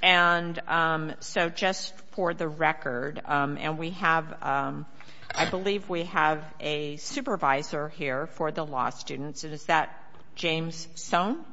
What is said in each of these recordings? and so just for the record and we have I believe we have a supervisor here for the law students and is that James Sohn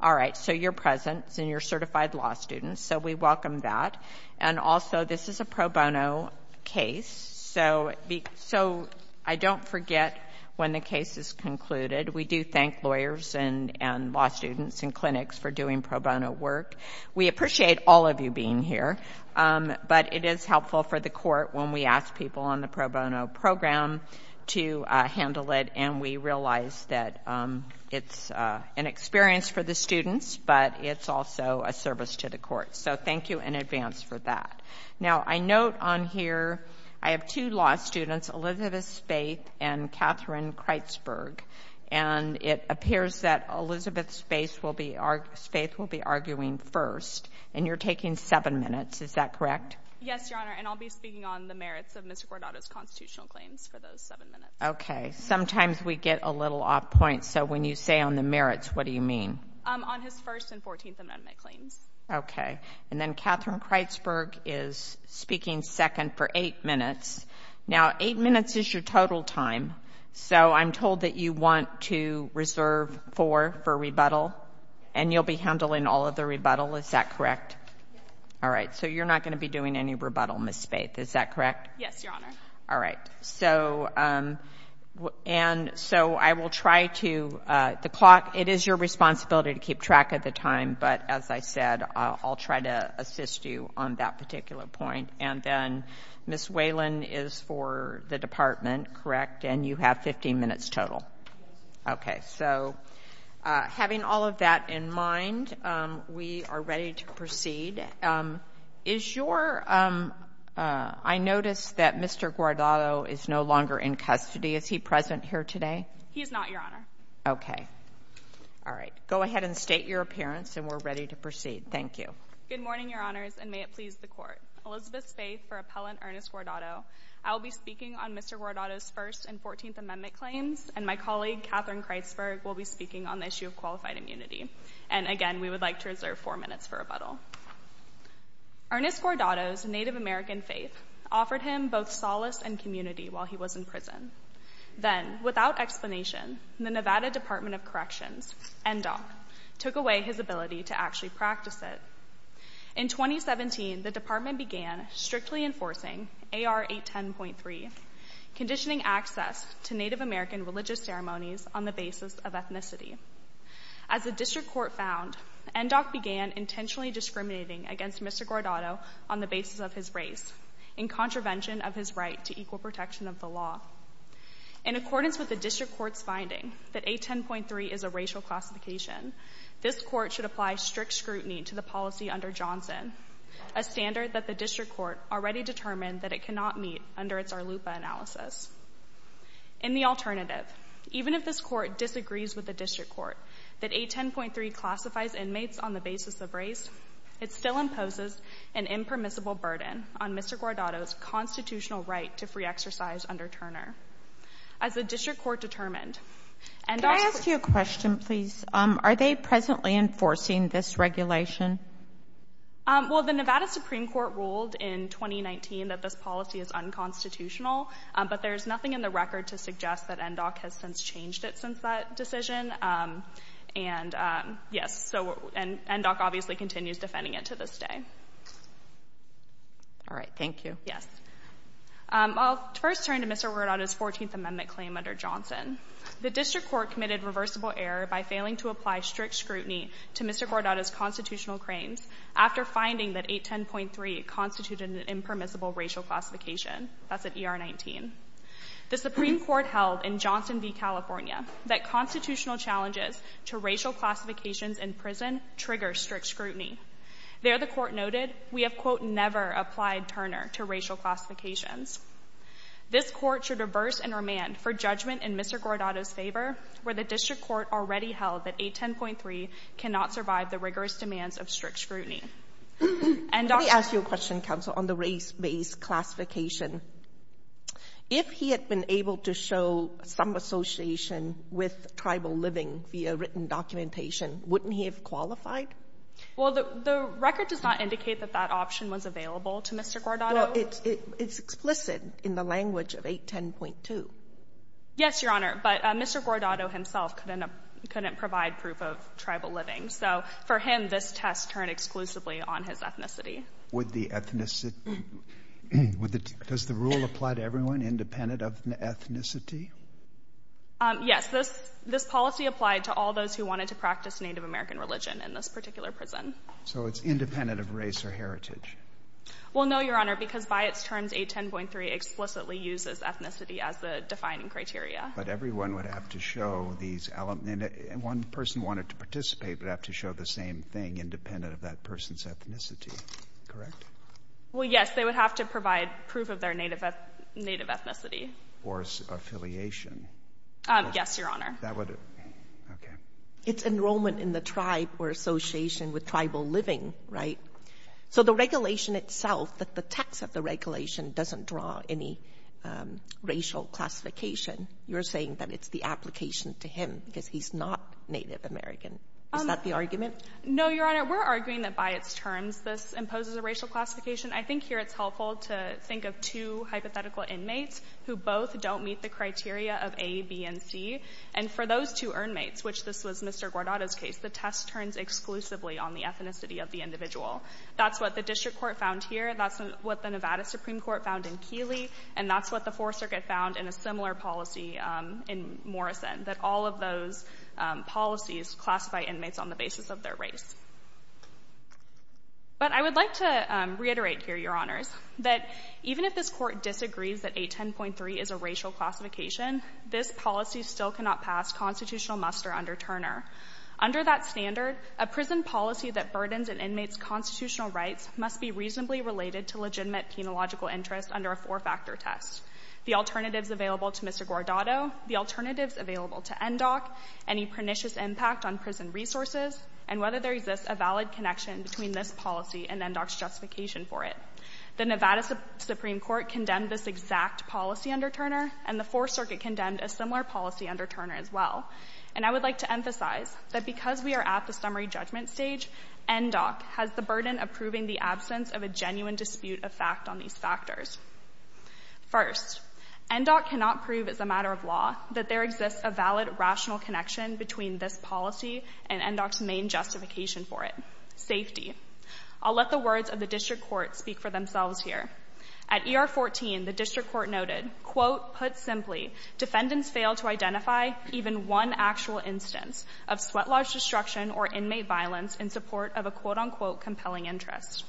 all right so your presence and your certified law students so we welcome that and also this is a pro bono case so so I don't forget when the case is concluded we do thank lawyers and and law students and clinics for doing pro bono work we appreciate all of you being here but it is helpful for the court when we ask people on the pro bono program to handle it and we realize that it's an experience for the students but it's also a service to the court so thank you in advance for that now I note on here I have two law students Elizabeth Spaeth and Katherine Kreitzberg and it appears that Elizabeth Spaeth will be arguing first and you're taking seven minutes is that correct yes your honor and I'll be speaking on the merits of Mr. Guardado's constitutional claims for those seven minutes okay sometimes we get a little off point so when you say on the merits what do you mean on his first and 14th amendment claims okay and then Katherine Kreitzberg is speaking second for eight minutes now eight minutes is your total time so I'm told that you want to reserve four for rebuttal and you'll be handling all of the rebuttal is that correct all right so you're not going to be doing any rebuttal miss Spaeth is that correct yes your honor all right so and so I will try to the clock it is your responsibility to keep track of the time but as I said I'll try to assist you on that particular point and then miss Whelan is for the total okay so having all of that in mind we are ready to proceed is your I noticed that mr. Guardado is no longer in custody is he present here today he's not your honor okay all right go ahead and state your appearance and we're ready to proceed thank you good morning your honors and may it please the court Elizabeth Spaeth for appellant Ernest Guardado I'll be and my colleague Katherine Kreitzberg will be speaking on the issue of qualified immunity and again we would like to reserve four minutes for rebuttal Ernest Guardado's Native American faith offered him both solace and community while he was in prison then without explanation the Nevada Department of Corrections and doc took away his ability to actually practice it in 2017 the department began strictly enforcing AR 810.3 conditioning access to Native American religious ceremonies on the basis of ethnicity as the district court found and doc began intentionally discriminating against mr. Guardado on the basis of his race in contravention of his right to equal protection of the law in accordance with the district courts finding that a 10.3 is a racial classification this court should apply strict scrutiny to the policy under Johnson a standard that the district court already determined that it cannot meet under its our loop analysis in the alternative even if this court disagrees with the district court that a 10.3 classifies inmates on the basis of race it still imposes an impermissible burden on mr. Guardado's constitutional right to free exercise under Turner as a district court determined and I ask you a question please are they presently enforcing this regulation well the unconstitutional but there's nothing in the record to suggest that and doc has since changed it since that decision and yes so and doc obviously continues defending it to this day all right thank you yes I'll first turn to mr. word on his 14th amendment claim under Johnson the district court committed reversible error by failing to apply strict scrutiny to mr. cord out as constitutional cranes after finding that a 10.3 constituted an impermissible racial classification that's at er 19 the Supreme Court held in Johnson v California that constitutional challenges to racial classifications in prison trigger strict scrutiny there the court noted we have quote never applied Turner to racial classifications this court should reverse and remand for judgment in mr. Guardado's favor where the district court already held that a 10.3 cannot survive the rigorous demands of strict scrutiny and I ask you a question council on the race-based classification if he had been able to show some association with tribal living via written documentation wouldn't he have qualified well the record does not indicate that that option was available to mr. guard on it it's explicit in the language of eight ten point two yes your honor but mr. Guardado himself couldn't provide proof of tribal living so for him this test turned exclusively on his ethnicity with the ethnicity with it does the rule apply to everyone independent of the ethnicity yes this this policy applied to all those who wanted to practice Native American religion in this particular prison so it's independent of race or heritage well no your honor because by its terms a 10.3 explicitly uses ethnicity as the defining criteria but everyone would have to show these element and one person wanted to participate but have to show the same thing independent of that person's ethnicity correct well yes they would have to provide proof of their native native ethnicity or affiliation yes your honor that would okay it's enrollment in the tribe or association with tribal living right so the regulation itself that the text of the regulation doesn't draw any racial classification you're saying that it's the application to him because he's not Native American is that the argument no your honor we're arguing that by its terms this imposes a racial classification I think here it's helpful to think of two hypothetical inmates who both don't meet the criteria of a B and C and for those two earn mates which this was mr. Guardado's case the test turns exclusively on the ethnicity of the individual that's what the district court found here that's what the Nevada Supreme Court found in Keeley and that's what the Fourth Circuit found in a similar policy in Morrison that all of those policies classified inmates on the basis of their race but I would like to reiterate here your honors that even if this court disagrees that a 10.3 is a racial classification this policy still cannot pass constitutional muster under Turner under that standard a prison policy that burdens an inmate's constitutional rights must be reasonably related to legitimate penological interest under a four-factor test the alternatives available to mr. Guardado the alternatives available to NDOC any pernicious impact on prison resources and whether there exists a valid connection between this policy and then DOC's justification for it the Nevada Supreme Court condemned this exact policy under Turner and the Fourth Circuit condemned a similar policy under Turner as well and I would like to emphasize that because we are at the summary judgment stage NDOC has the burden of proving the absence of a genuine dispute of fact on these factors first NDOC cannot prove as a matter of law that there exists a valid rational connection between this policy and NDOC's main justification for it safety I'll let the words of the district court speak for themselves here at ER 14 the defendants fail to identify even one actual instance of sweat lodge destruction or inmate violence in support of a quote-unquote compelling interest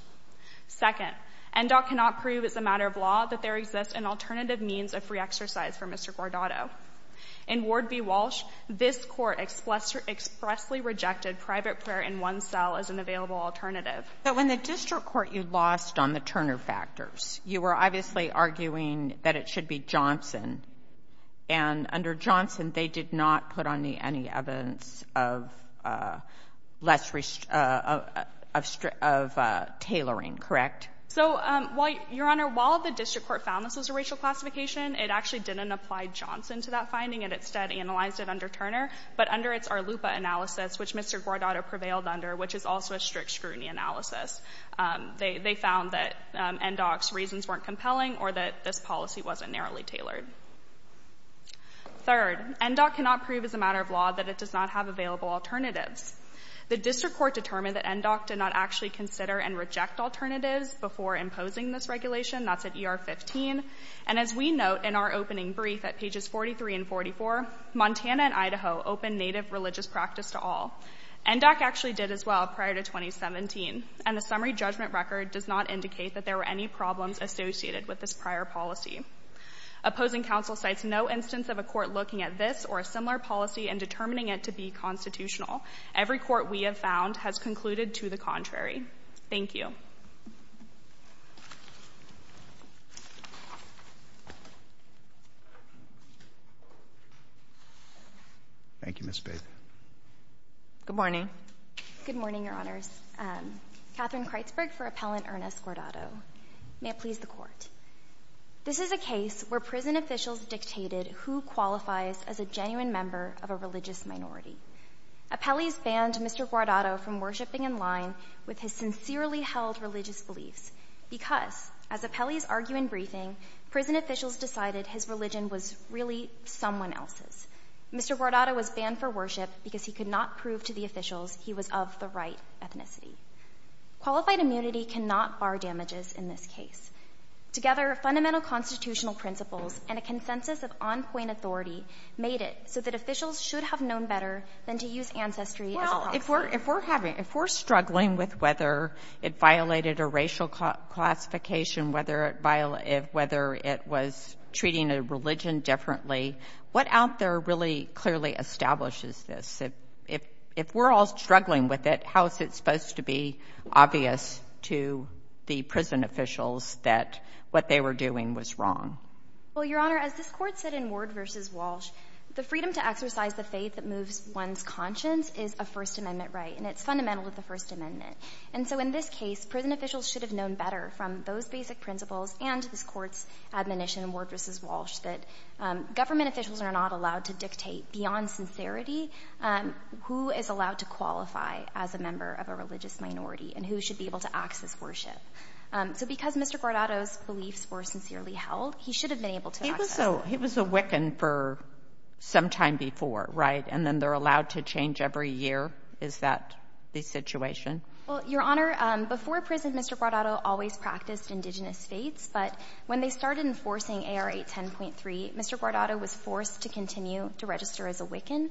second NDOC cannot prove as a matter of law that there exists an alternative means of free exercise for Mr. Guardado in Ward v. Walsh this court expressly rejected private prayer in one cell as an available alternative but when the district court you lost on the Turner factors you were obviously arguing that it should be Johnson and under Johnson they did not put on the any evidence of less restrictive of tailoring correct so why your honor while the district court found this was a racial classification it actually didn't apply Johnson to that finding and instead analyzed it under Turner but under its Arlupa analysis which Mr. Guardado prevailed under which is also a strict scrutiny analysis they found that NDOC's reasons weren't compelling or that this policy wasn't narrowly tailored third NDOC cannot prove as a matter of law that it does not have available alternatives the district court determined that NDOC did not actually consider and reject alternatives before imposing this regulation that's at ER 15 and as we note in our opening brief at pages 43 and 44 Montana and Idaho open native religious practice to all NDOC actually did as well prior to 2017 and the summary judgment record does not indicate that there were any problems associated with this prior policy opposing counsel sites no instance of a court looking at this or a similar policy and determining it to be constitutional every court we have found has concluded to the contrary thank you thank you miss babe good morning good morning your honors um Katherine Kreitzberg for appellant Ernest Guardado may it please the court this is a case where prison officials dictated who qualifies as a genuine member of a religious minority appellees banned Mr. Guardado from this case because as appellees argue in briefing prison officials decided his religion was really someone else's Mr. Guardado was banned for worship because he could not prove to the officials he was of the right ethnicity qualified immunity cannot bar damages in this case together fundamental constitutional principles and a consensus of on point authority made it so that officials should have known better than to use ancestry if we're if we're having if we're struggling with whether it violated a racial classification whether it violated whether it was treating a religion differently what out there really clearly establishes this if if if we're all struggling with it how is it supposed to be obvious to the prison officials that what they were doing was wrong well your honor as this court said in ward versus Walsh the freedom to exercise the faith that moves one's conscience is a fundamental to the First Amendment and so in this case prison officials should have known better from those basic principles and this court's admonition ward versus Walsh that government officials are not allowed to dictate beyond sincerity who is allowed to qualify as a member of a religious minority and who should be able to access worship so because Mr. Guardado's beliefs were sincerely held he should have been able to he was so he was a Wiccan for some time before right and then they're allowed to change every year is that the situation well your honor before prison Mr. Guardado always practiced indigenous faiths but when they started enforcing AR 810.3 Mr. Guardado was forced to continue to register as a Wiccan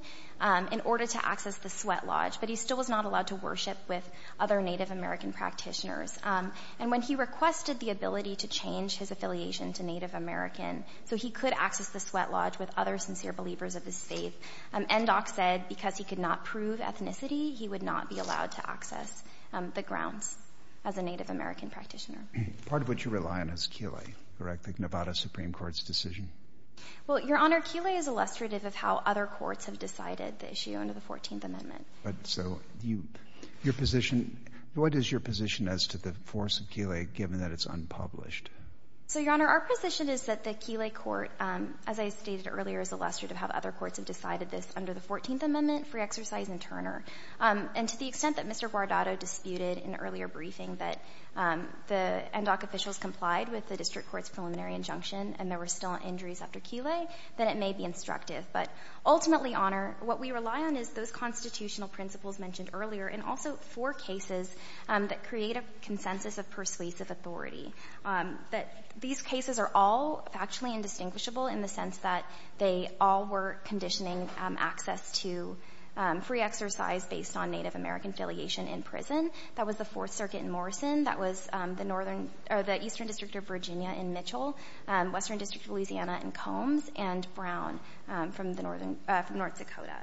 in order to access the sweat lodge but he still was not allowed to worship with other Native American practitioners and when he requested the ability to change his affiliation to Native American so he could access the sweat levers of his faith and Endock said because he could not prove ethnicity he would not be allowed to access the grounds as a Native American practitioner part of what you rely on is Keeley correct the Nevada Supreme Court's decision well your honor Keeley is illustrative of how other courts have decided the issue under the 14th amendment but so you your position what is your position as to the force of Keeley given that it's unpublished so your honor our position is that the Keeley court as I stated earlier is illustrative of how other courts have decided this under the 14th amendment free exercise and Turner and to the extent that Mr. Guardado disputed in earlier briefing that the Endock officials complied with the district court's preliminary injunction and there were still injuries after Keeley then it may be instructive but ultimately honor what we rely on is those constitutional principles mentioned earlier and also for cases that create a consensus of persuasive authority that these cases are all actually indistinguishable in the sense that they all were conditioning access to free exercise based on Native American affiliation in prison that was the fourth circuit in Morrison that was the northern or the eastern district of Virginia in Mitchell and western district of Louisiana and Combs and Brown from the northern North Dakota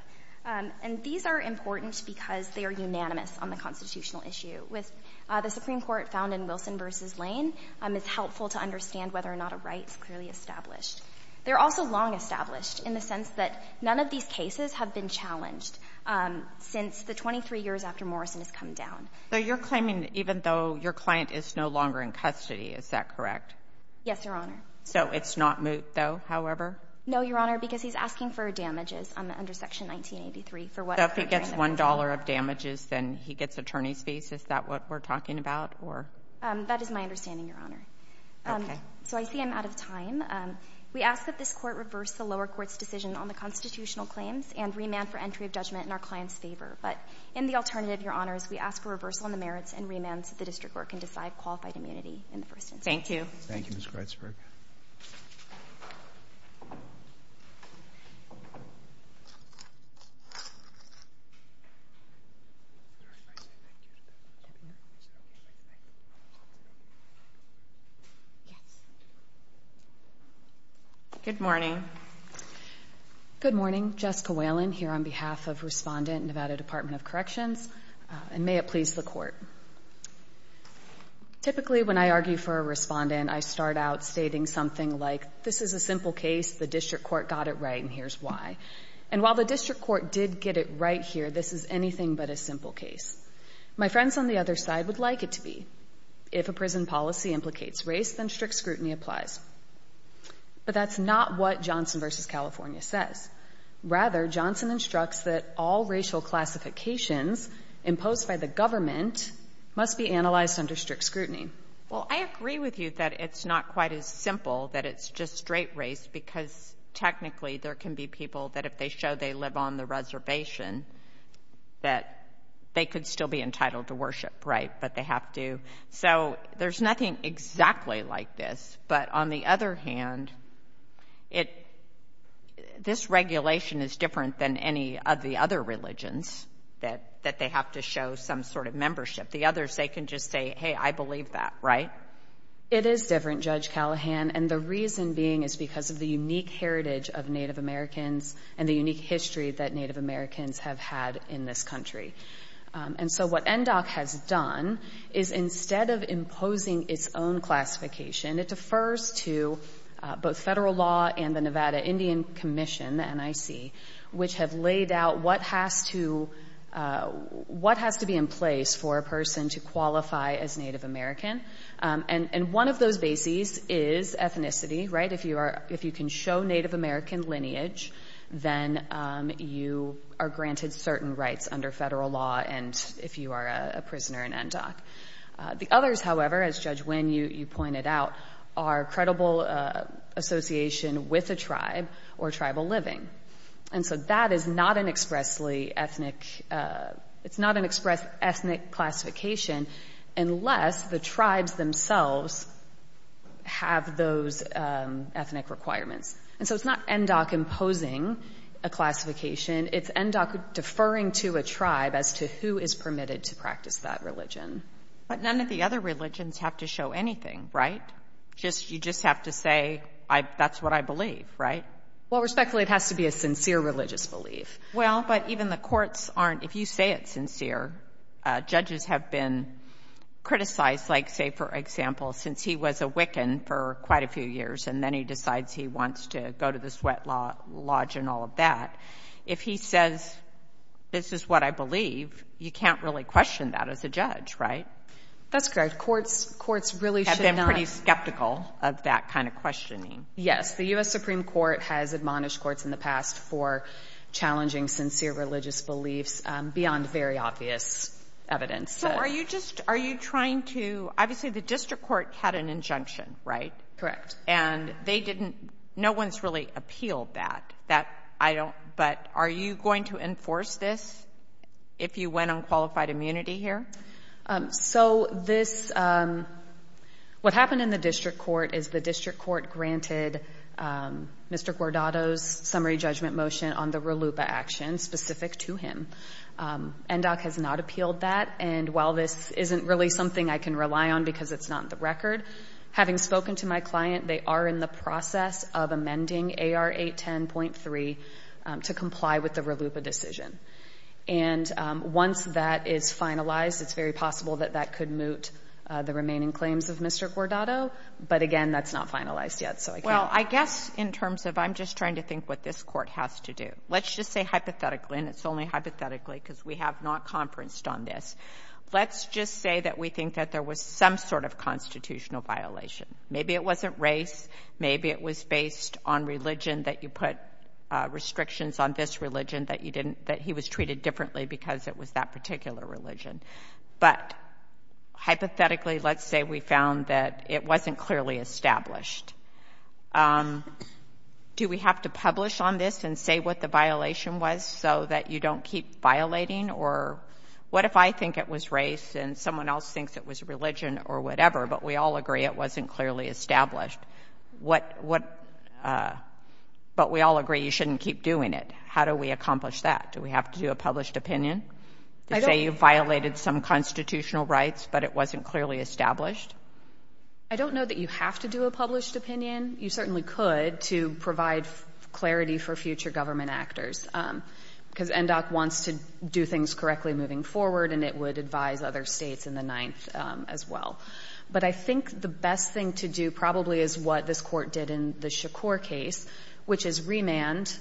and these are important because they are unanimous on the constitutional issue with the Supreme Court found in Wilson versus Lane it's helpful to understand whether or not a right is clearly established they're also long established in the sense that none of these cases have been challenged since the 23 years after Morrison has come down so you're claiming even though your client is no longer in custody is that correct yes your honor so it's not moot though however no your honor because he's asking for damages under section 1983 for what if he gets one dollar of damages then he gets attorney's fees is that what we're talking about or that is my understanding your honor so I see I'm out of time we ask that this court reverse the lower court's decision on the constitutional claims and remand for entry of judgment in our client's favor but in the alternative your honors we ask for reversal in the merits and remands that the district court can decide qualified immunity in the first instance thank you thank you Miss Gritzberg yes good morning good morning Jessica Whalen here on behalf of respondent Nevada Department of Corrections and may it please the court typically when I argue for a respondent I start out stating something like this is a simple case the district court got it right and here's why and while the district court did get it right here this is anything but a simple case my friends on the other side would like it to be if a prison policy implicates race then strict scrutiny applies but that's not what Johnson versus California says rather Johnson instructs that all racial classifications imposed by the government must be analyzed under strict scrutiny well I agree with you that it's not quite as simple that it's just straight race because technically there can be people that if they show they live on the reservation that they could still be entitled to worship right but they have to so there's nothing exactly like this but on the other hand it this regulation is different than any of the other religions that that they have to show some sort of membership the others they can just say hey I believe that right it is different Judge Callahan and the reason being is because of the unique heritage of Native Americans and the unique history that Native Americans have had in this country and so what NDOC has done is instead of imposing its own classification it defers to both federal law and the Nevada Indian Commission the NIC which have laid out what has to what has to be in place for a person to qualify as Native American and and one of those bases is ethnicity right if you are if you can show Native American lineage then you are granted certain rights under federal law and if you are a prisoner in NDOC the others however as Judge Wynn you you pointed out are credible association with a tribe or tribal living and so that is not an expressly ethnic it's not an express ethnic classification unless the tribes themselves have those ethnic requirements and so it's not NDOC imposing a classification it's NDOC deferring to a tribe as to who is permitted to practice that religion but none of the other religions have to show anything right just you just have to say I that's what I believe right well respectfully it has to be a sincere religious belief well but even the courts aren't if you say it's sincere judges have been criticized like say for example since he was a Wiccan for quite a few years and then he decides he wants to go to the sweat lodge and all of that if he says this is what I believe you can't really question that as a judge right that's correct courts courts really have been pretty skeptical of that kind of questioning yes the US Supreme Court has admonished courts in the past for challenging sincere religious beliefs beyond very obvious evidence so are you just are you trying to obviously the district court had an that I don't but are you going to enforce this if you went on qualified immunity here so this what happened in the district court is the district court granted mr. Gordado's summary judgment motion on the real loop action specific to him and doc has not appealed that and while this isn't really something I can rely on because it's not the record having spoken to my client they are in the process of amending a r8 10.3 to comply with the real loop a decision and once that is finalized it's very possible that that could moot the remaining claims of mr. Gordado but again that's not finalized yet so well I guess in terms of I'm just trying to think what this court has to do let's just say hypothetically and it's only hypothetically because we have not conferenced on this let's just say that we think that there was some sort of constitutional violation maybe it wasn't race maybe it was based on religion that you put restrictions on this religion that you didn't that he was treated differently because it was that particular religion but hypothetically let's say we found that it wasn't clearly established do we have to publish on this and say what the violation was so that you don't keep violating or what if I think it was race and someone else thinks it was religion or whatever but we all agree it wasn't clearly established what what but we all agree you shouldn't keep doing it how do we accomplish that do we have to do a published opinion I say you violated some constitutional rights but it wasn't clearly established I don't know that you have to do a published opinion you certainly could to provide clarity for future government actors because and doc wants to do things correctly moving forward and it would advise other states in the ninth as well but I think the best thing to do probably is what this court did in the Shakur case which is remand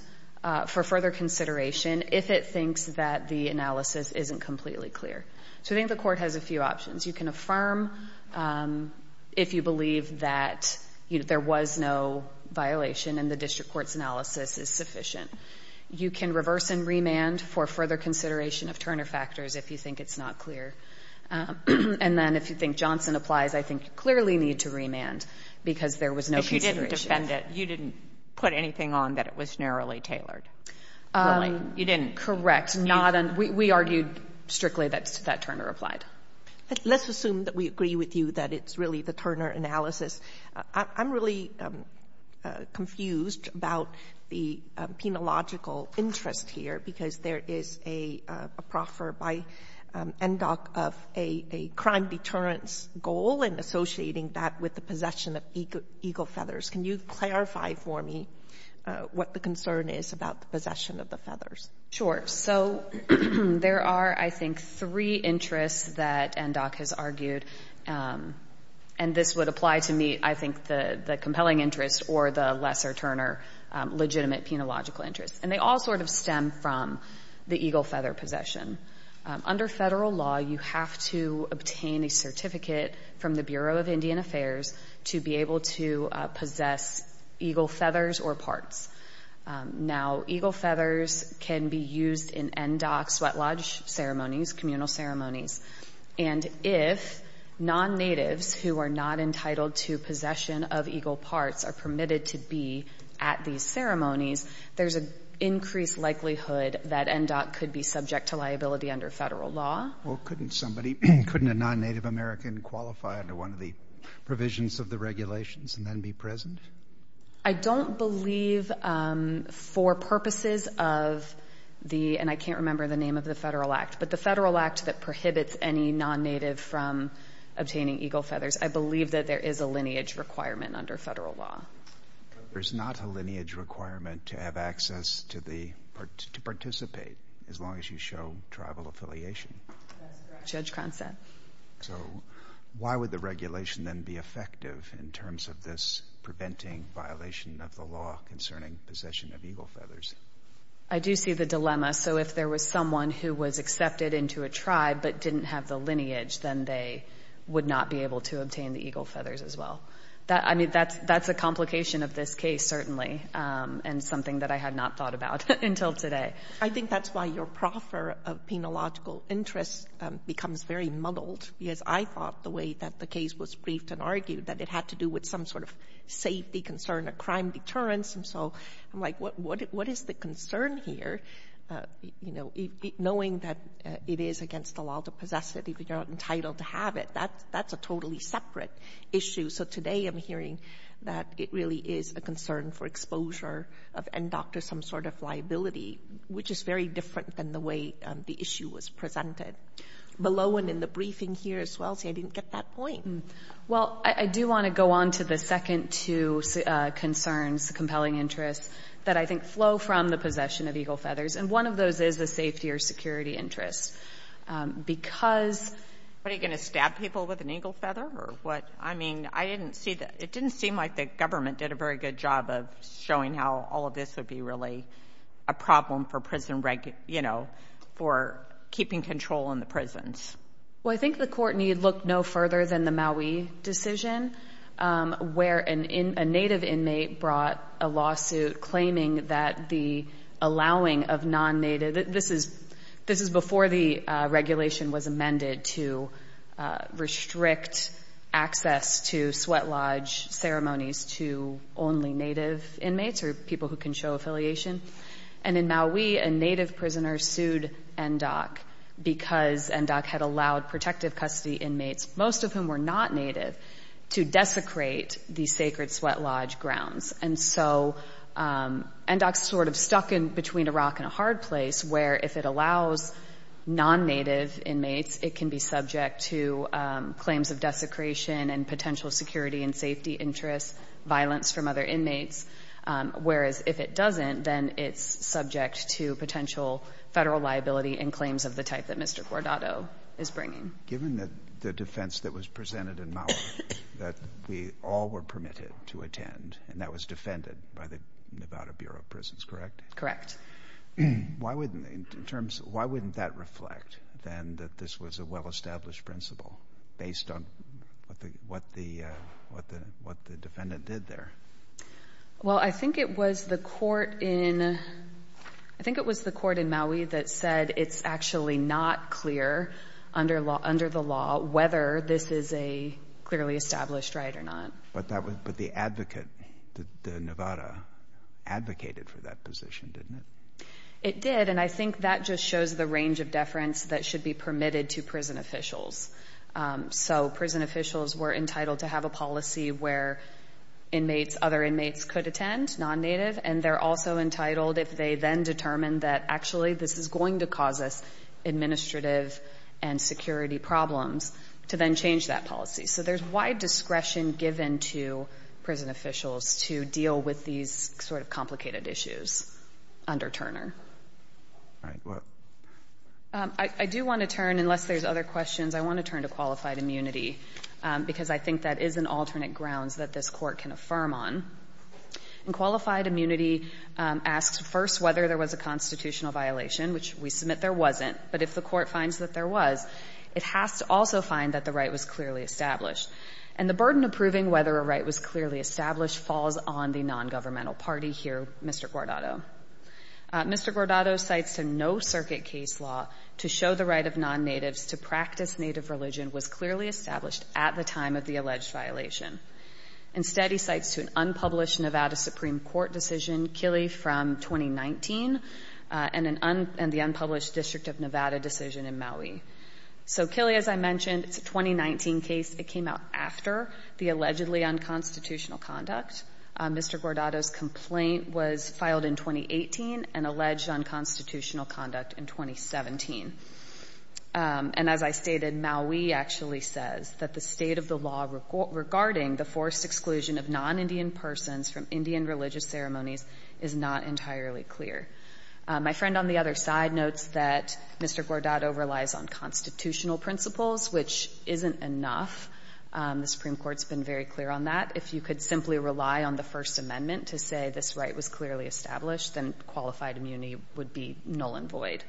for further consideration if it thinks that the analysis isn't completely clear so I think the court has a few options you can affirm if you believe that you know there was no violation and the district courts analysis is if you think it's not clear and then if you think Johnson applies I think you clearly need to remand because there was no consideration if you didn't defend it you didn't put anything on that it was narrowly tailored you didn't correct not and we we argued strictly that's that Turner applied let's assume that we agree with you that it's really the Turner analysis I'm really confused about the penological interest here because there is a proffer by and doc of a crime deterrence goal and associating that with the possession of eagle feathers can you clarify for me what the concern is about the possession of the feathers sure so there are I think three interests that and doc has argued and this would apply to me I think the compelling interest or the lesser Turner legitimate penological interest and they all sort of stem from the eagle feather possession under federal law you have to obtain a certificate from the Bureau of Indian Affairs to be able to possess eagle feathers or parts now eagle feathers can be used in and doc sweat lodge ceremonies communal ceremonies and if non-natives who are not entitled to possession of eagle parts are permitted to be at these ceremonies there's an increased likelihood that and doc could be subject to liability under federal law couldn't somebody couldn't a non-native American qualify under one of the provisions of the regulations and then be present I don't believe for purposes of the and I can't remember the name of the federal act but the federal act that prohibits any non-native from obtaining eagle feathers I believe that there is a lineage requirement under federal law there's not a lineage requirement to have access to the part to participate as long as you show tribal affiliation judge concept why would the regulation and be effective in terms of this preventing violation of the law concerning possession of eagle feathers I do see the dilemma so if there was someone who was accepted into a tribe but didn't have the lineage then they would not be able to obtain the eagle feathers as well that I mean that's that's a complication of this case certainly and something that I had not thought about until today I think that's why you're proper of penological interest becomes very muddled because I thought the way that the case was briefed and argued that it had to do with some sort of safety concern a crime deterrence and so I'm like what what what is the concern here you know knowing that it is against the law to possess it if you're not entitled to have it that that's a totally separate issue so today I'm hearing that it really is a concern for exposure of and doctor some sort of liability which is very different than the way the issue was presented below and in the briefing here as well see I didn't get that point well I do want to go on to the second to see concerns compelling interest that I think flow from the possession of eagle feathers and one of those is the safety or security interest because what are you going to stab people with an eagle feather or what I mean I didn't see that it didn't seem like the government did a very good job of showing how all of this would be really a problem for prison wreck you know for keeping control in the prisons well I think the court need look no further than the Maui decision where an in a native inmate brought a lawsuit claiming that the allowing of non-native this is this is before the regulation was amended to restrict access to sweat lodge ceremonies to only native inmates are people who can show affiliation and in Maui and native prisoners sued and doc because and doc had allowed protective custody inmates most of whom were not native to desecrate the sacred sweat lodge grounds and so and I sort of stuck in between Iraq in a hard place where if it allows non-native inmates it can be subject to claims of desecration and potential security and safety interest violence from other inmates whereas if it doesn't then it's subject to potential federal liability and claims of the type that Mr. Gordado is bringing given that the defense that was presented in Maui that we all were permitted to attend and that was defended by the Nevada Bureau of Prisons correct correct why wouldn't in terms of why wouldn't that reflect then that this was a well established principle based on what the what the what the what the defendant did there well I think it was the court in I think it was the court in Maui that said it's actually not clear under law under the law whether this is a clearly established right or not but that was but the advocate the Nevada advocated for that position didn't it it did and I think that just shows the range of deference that should be permitted to prison officials so prison officials were entitled to have a policy where inmates other inmates could attend non-native and they're also entitled if they then determined that actually this is going to cause us administrative and security problems to then change that policy so there's wide discretion given to prison officials to deal with these sort of complicated issues under Turner I do want to turn unless there's other questions I want to turn to qualified immunity because I think that is an alternate grounds that this court can affirm on and qualified immunity asks first whether there was a constitutional violation which we submit there wasn't but if the court finds that there was it has to also find that the right was clearly established and the burden of proving whether a right was clearly established falls on the non-governmental party here Mr. Gordado Mr. Gordado cites to no circuit case law to show the right of non-natives to practice native religion was clearly established at the time of the alleged violation instead he cites to an unpublished Nevada Supreme Court decision Killey from 2019 and the unpublished district of Nevada decision in Maui So Killey as I mentioned it's a 2019 case it came out after the allegedly unconstitutional conduct Mr. Gordado's complaint was filed in 2018 and alleged unconstitutional conduct in 2017 and as I stated Maui actually says that the state of the law regarding the forced exclusion of non-Indian persons from Indian religious ceremonies is not entirely clear My friend on the other side notes that Mr. Gordado relies on constitutional principles which isn't enough the Supreme Court's been very clear on that if you could simply rely on the First Amendment to say this right was clearly established then qualified immunity would be null and void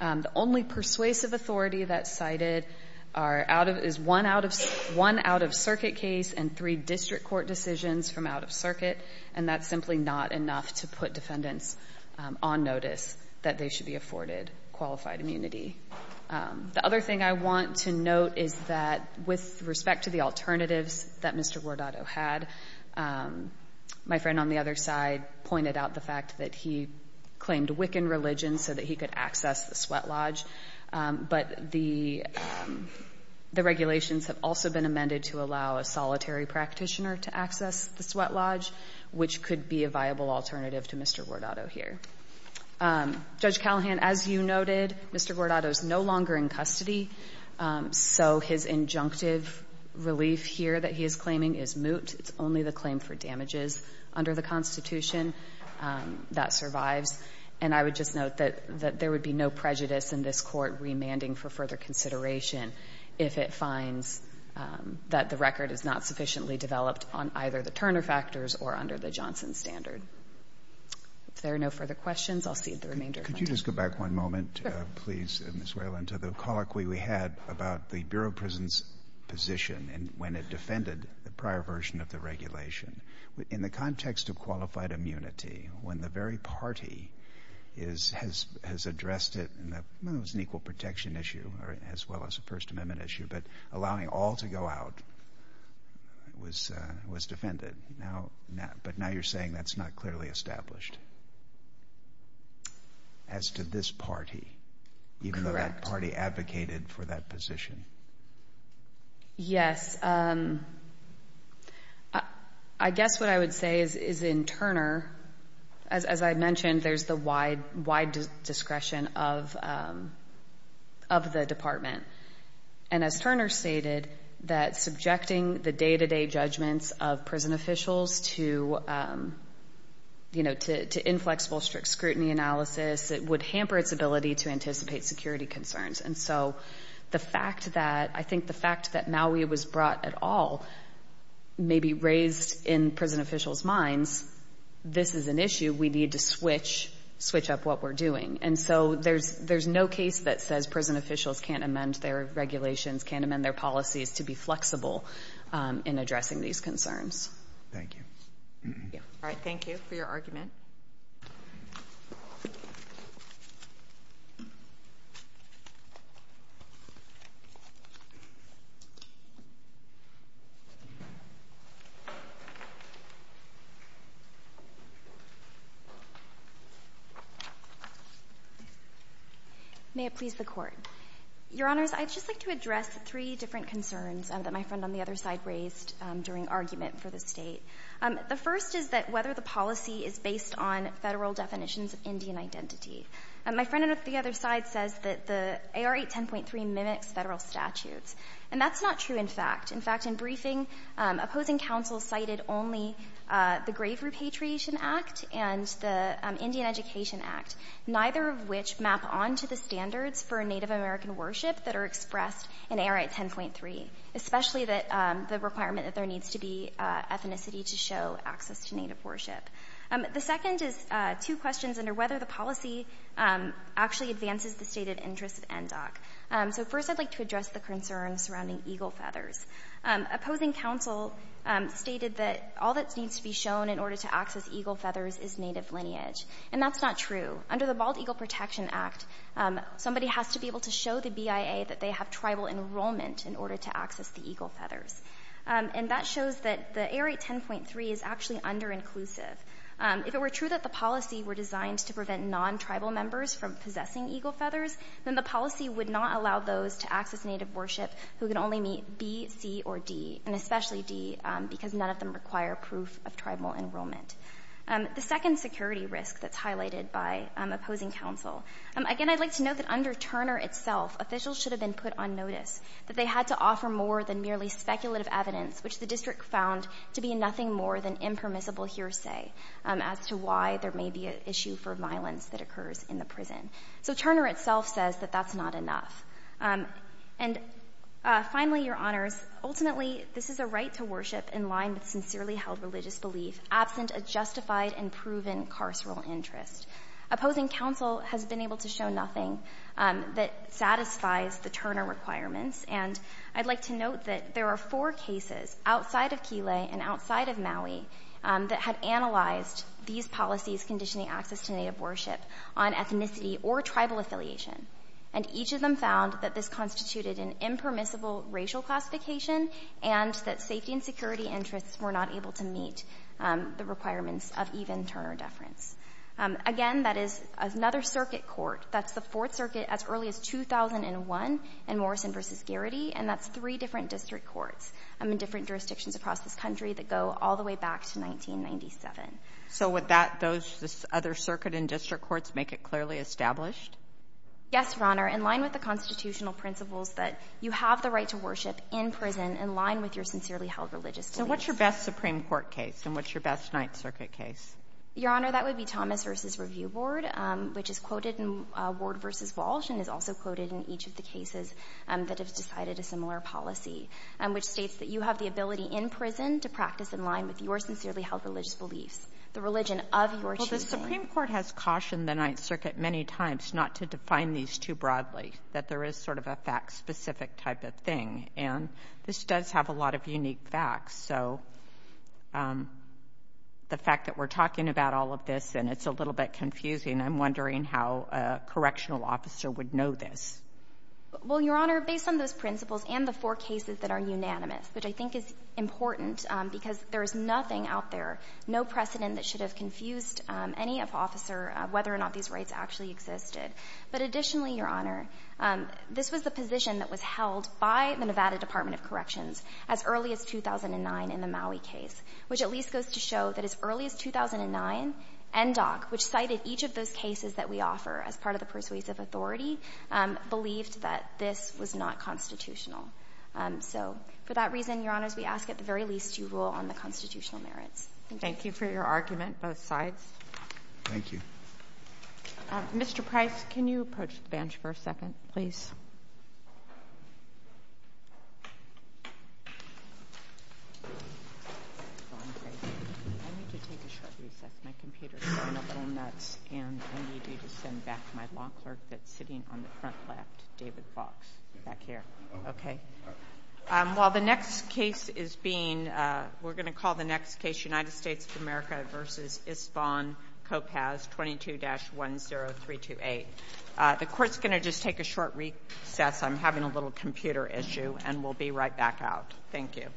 The only persuasive authority that's cited is one out of circuit case and three district court decisions from out of circuit and that's simply not enough to put defendants on notice that they should be afforded qualified immunity The other thing I want to note is that with respect to the alternatives that Mr. Gordado had my friend on the other side pointed out the fact that he claimed Wiccan religion so that he could access the sweat lodge but the regulations have also been amended to allow a solitary practitioner to access the sweat lodge which could be a viable alternative to Mr. Gordado here Judge Callahan as you noted Mr. Gordado is no longer in custody so his injunctive relief here that he is claiming is moot it's only the claim for damages under the Constitution that survives and I would just note that there would be no prejudice in this court remanding for further consideration if it finds that the record is not sufficiently developed on either the Turner factors or under the Johnson standard If there are no further questions I'll cede the remainder of my time Could you just go back one moment please Ms. Whalen to the colloquy we had about the Bureau of Prisons position and when it defended the prior version of the regulation In the context of qualified immunity when the very party has addressed it and it was an equal protection issue as well as a First Amendment issue but allowing all to go out was defended but now you're saying that's not clearly established as to this party even though that party advocated for that position Yes I guess what I would say is in Turner as I mentioned there's the wide discretion of the department and as Turner stated that subjecting the day-to-day judgments of prison officials to inflexible strict scrutiny analysis it would hamper its ability to anticipate security concerns And so the fact that I think the fact that Maui was brought at all may be raised in prison officials minds this is an issue we need to switch up what we're doing and so there's no case that says prison officials can't amend their regulations can't amend their policies to be flexible in addressing these concerns Thank you Alright thank you for your argument May it please the court Your honors I'd just like to address three different concerns that my friend on the other side raised during argument for the state The first is that whether the policy is based on federal definitions of Indian identity My friend on the other side says that the AR810.3 mimics federal statutes and that's not true in fact in fact in briefing opposing counsel cited only the Grave Repatriation Act and the Indian Education Act neither of which map onto the standards for Native American worship that are expressed in AR810.3 Especially that the requirement that there needs to be ethnicity to show access to Native worship The second is two questions under whether the policy actually advances the state of interest of NDOC So first I'd like to address the concern surrounding eagle feathers Opposing counsel stated that all that needs to be shown in order to access eagle feathers is Native lineage and that's not true Under the Bald Eagle Protection Act somebody has to be able to show the BIA that they have tribal enrollment in order to access the eagle feathers And that shows that the AR810.3 is actually under inclusive If it were true that the policy were designed to prevent non-tribal members from possessing eagle feathers Then the policy would not allow those to access Native worship who can only meet B, C, or D And especially D because none of them require proof of tribal enrollment The second security risk that's highlighted by opposing counsel Again I'd like to note that under Turner itself officials should have been put on notice That they had to offer more than merely speculative evidence which the district found to be nothing more than impermissible hearsay As to why there may be an issue for violence that occurs in the prison So Turner itself says that that's not enough And finally your honors, ultimately this is a right to worship in line with sincerely held religious belief Absent a justified and proven carceral interest Opposing counsel has been able to show nothing that satisfies the Turner requirements And I'd like to note that there are four cases outside of Kile and outside of Maui That had analyzed these policies conditioning access to Native worship on ethnicity or tribal affiliation And each of them found that this constituted an impermissible racial classification And that safety and security interests were not able to meet the requirements of even Turner deference Again that is another circuit court That's the fourth circuit as early as 2001 in Morrison versus Garrity And that's three different district courts in different jurisdictions across this country that go all the way back to 1997 So would that those other circuit and district courts make it clearly established? Yes your honor in line with the constitutional principles that you have the right to worship in prison in line with your sincerely held religious beliefs So what's your best Supreme Court case and what's your best Ninth Circuit case? Your honor that would be Thomas versus Review Board which is quoted in Ward versus Walsh And is also quoted in each of the cases that have decided a similar policy And which states that you have the ability in prison to practice in line with your sincerely held religious beliefs The religion of your choosing Well the Supreme Court has cautioned the Ninth Circuit many times not to define these too broadly That there is sort of a fact specific type of thing and this does have a lot of unique facts So the fact that we're talking about all of this and it's a little bit confusing I'm wondering how a correctional officer would know this Well your honor based on those principles and the four cases that are unanimous Which I think is important because there is nothing out there No precedent that should have confused any officer whether or not these rights actually existed But additionally your honor this was the position that was held by the Nevada Department of Corrections As early as 2009 in the Maui case which at least goes to show that as early as 2009 NDOC which cited each of those cases that we offer as part of the persuasive authority Believed that this was not constitutional So for that reason your honors we ask at the very least you rule on the constitutional merits Thank you for your argument both sides Thank you Mr. Price can you approach the bench for a second please I need to take a short recess my computer is going a little nuts And I need you to send back my law clerk that's sitting on the front left David Fox back here Okay While the next case is being We're going to call the next case United States of America versus Isbon Copas 22-10328 The court's going to just take a short recess I'm having a little computer issue and we'll be right back out Thank you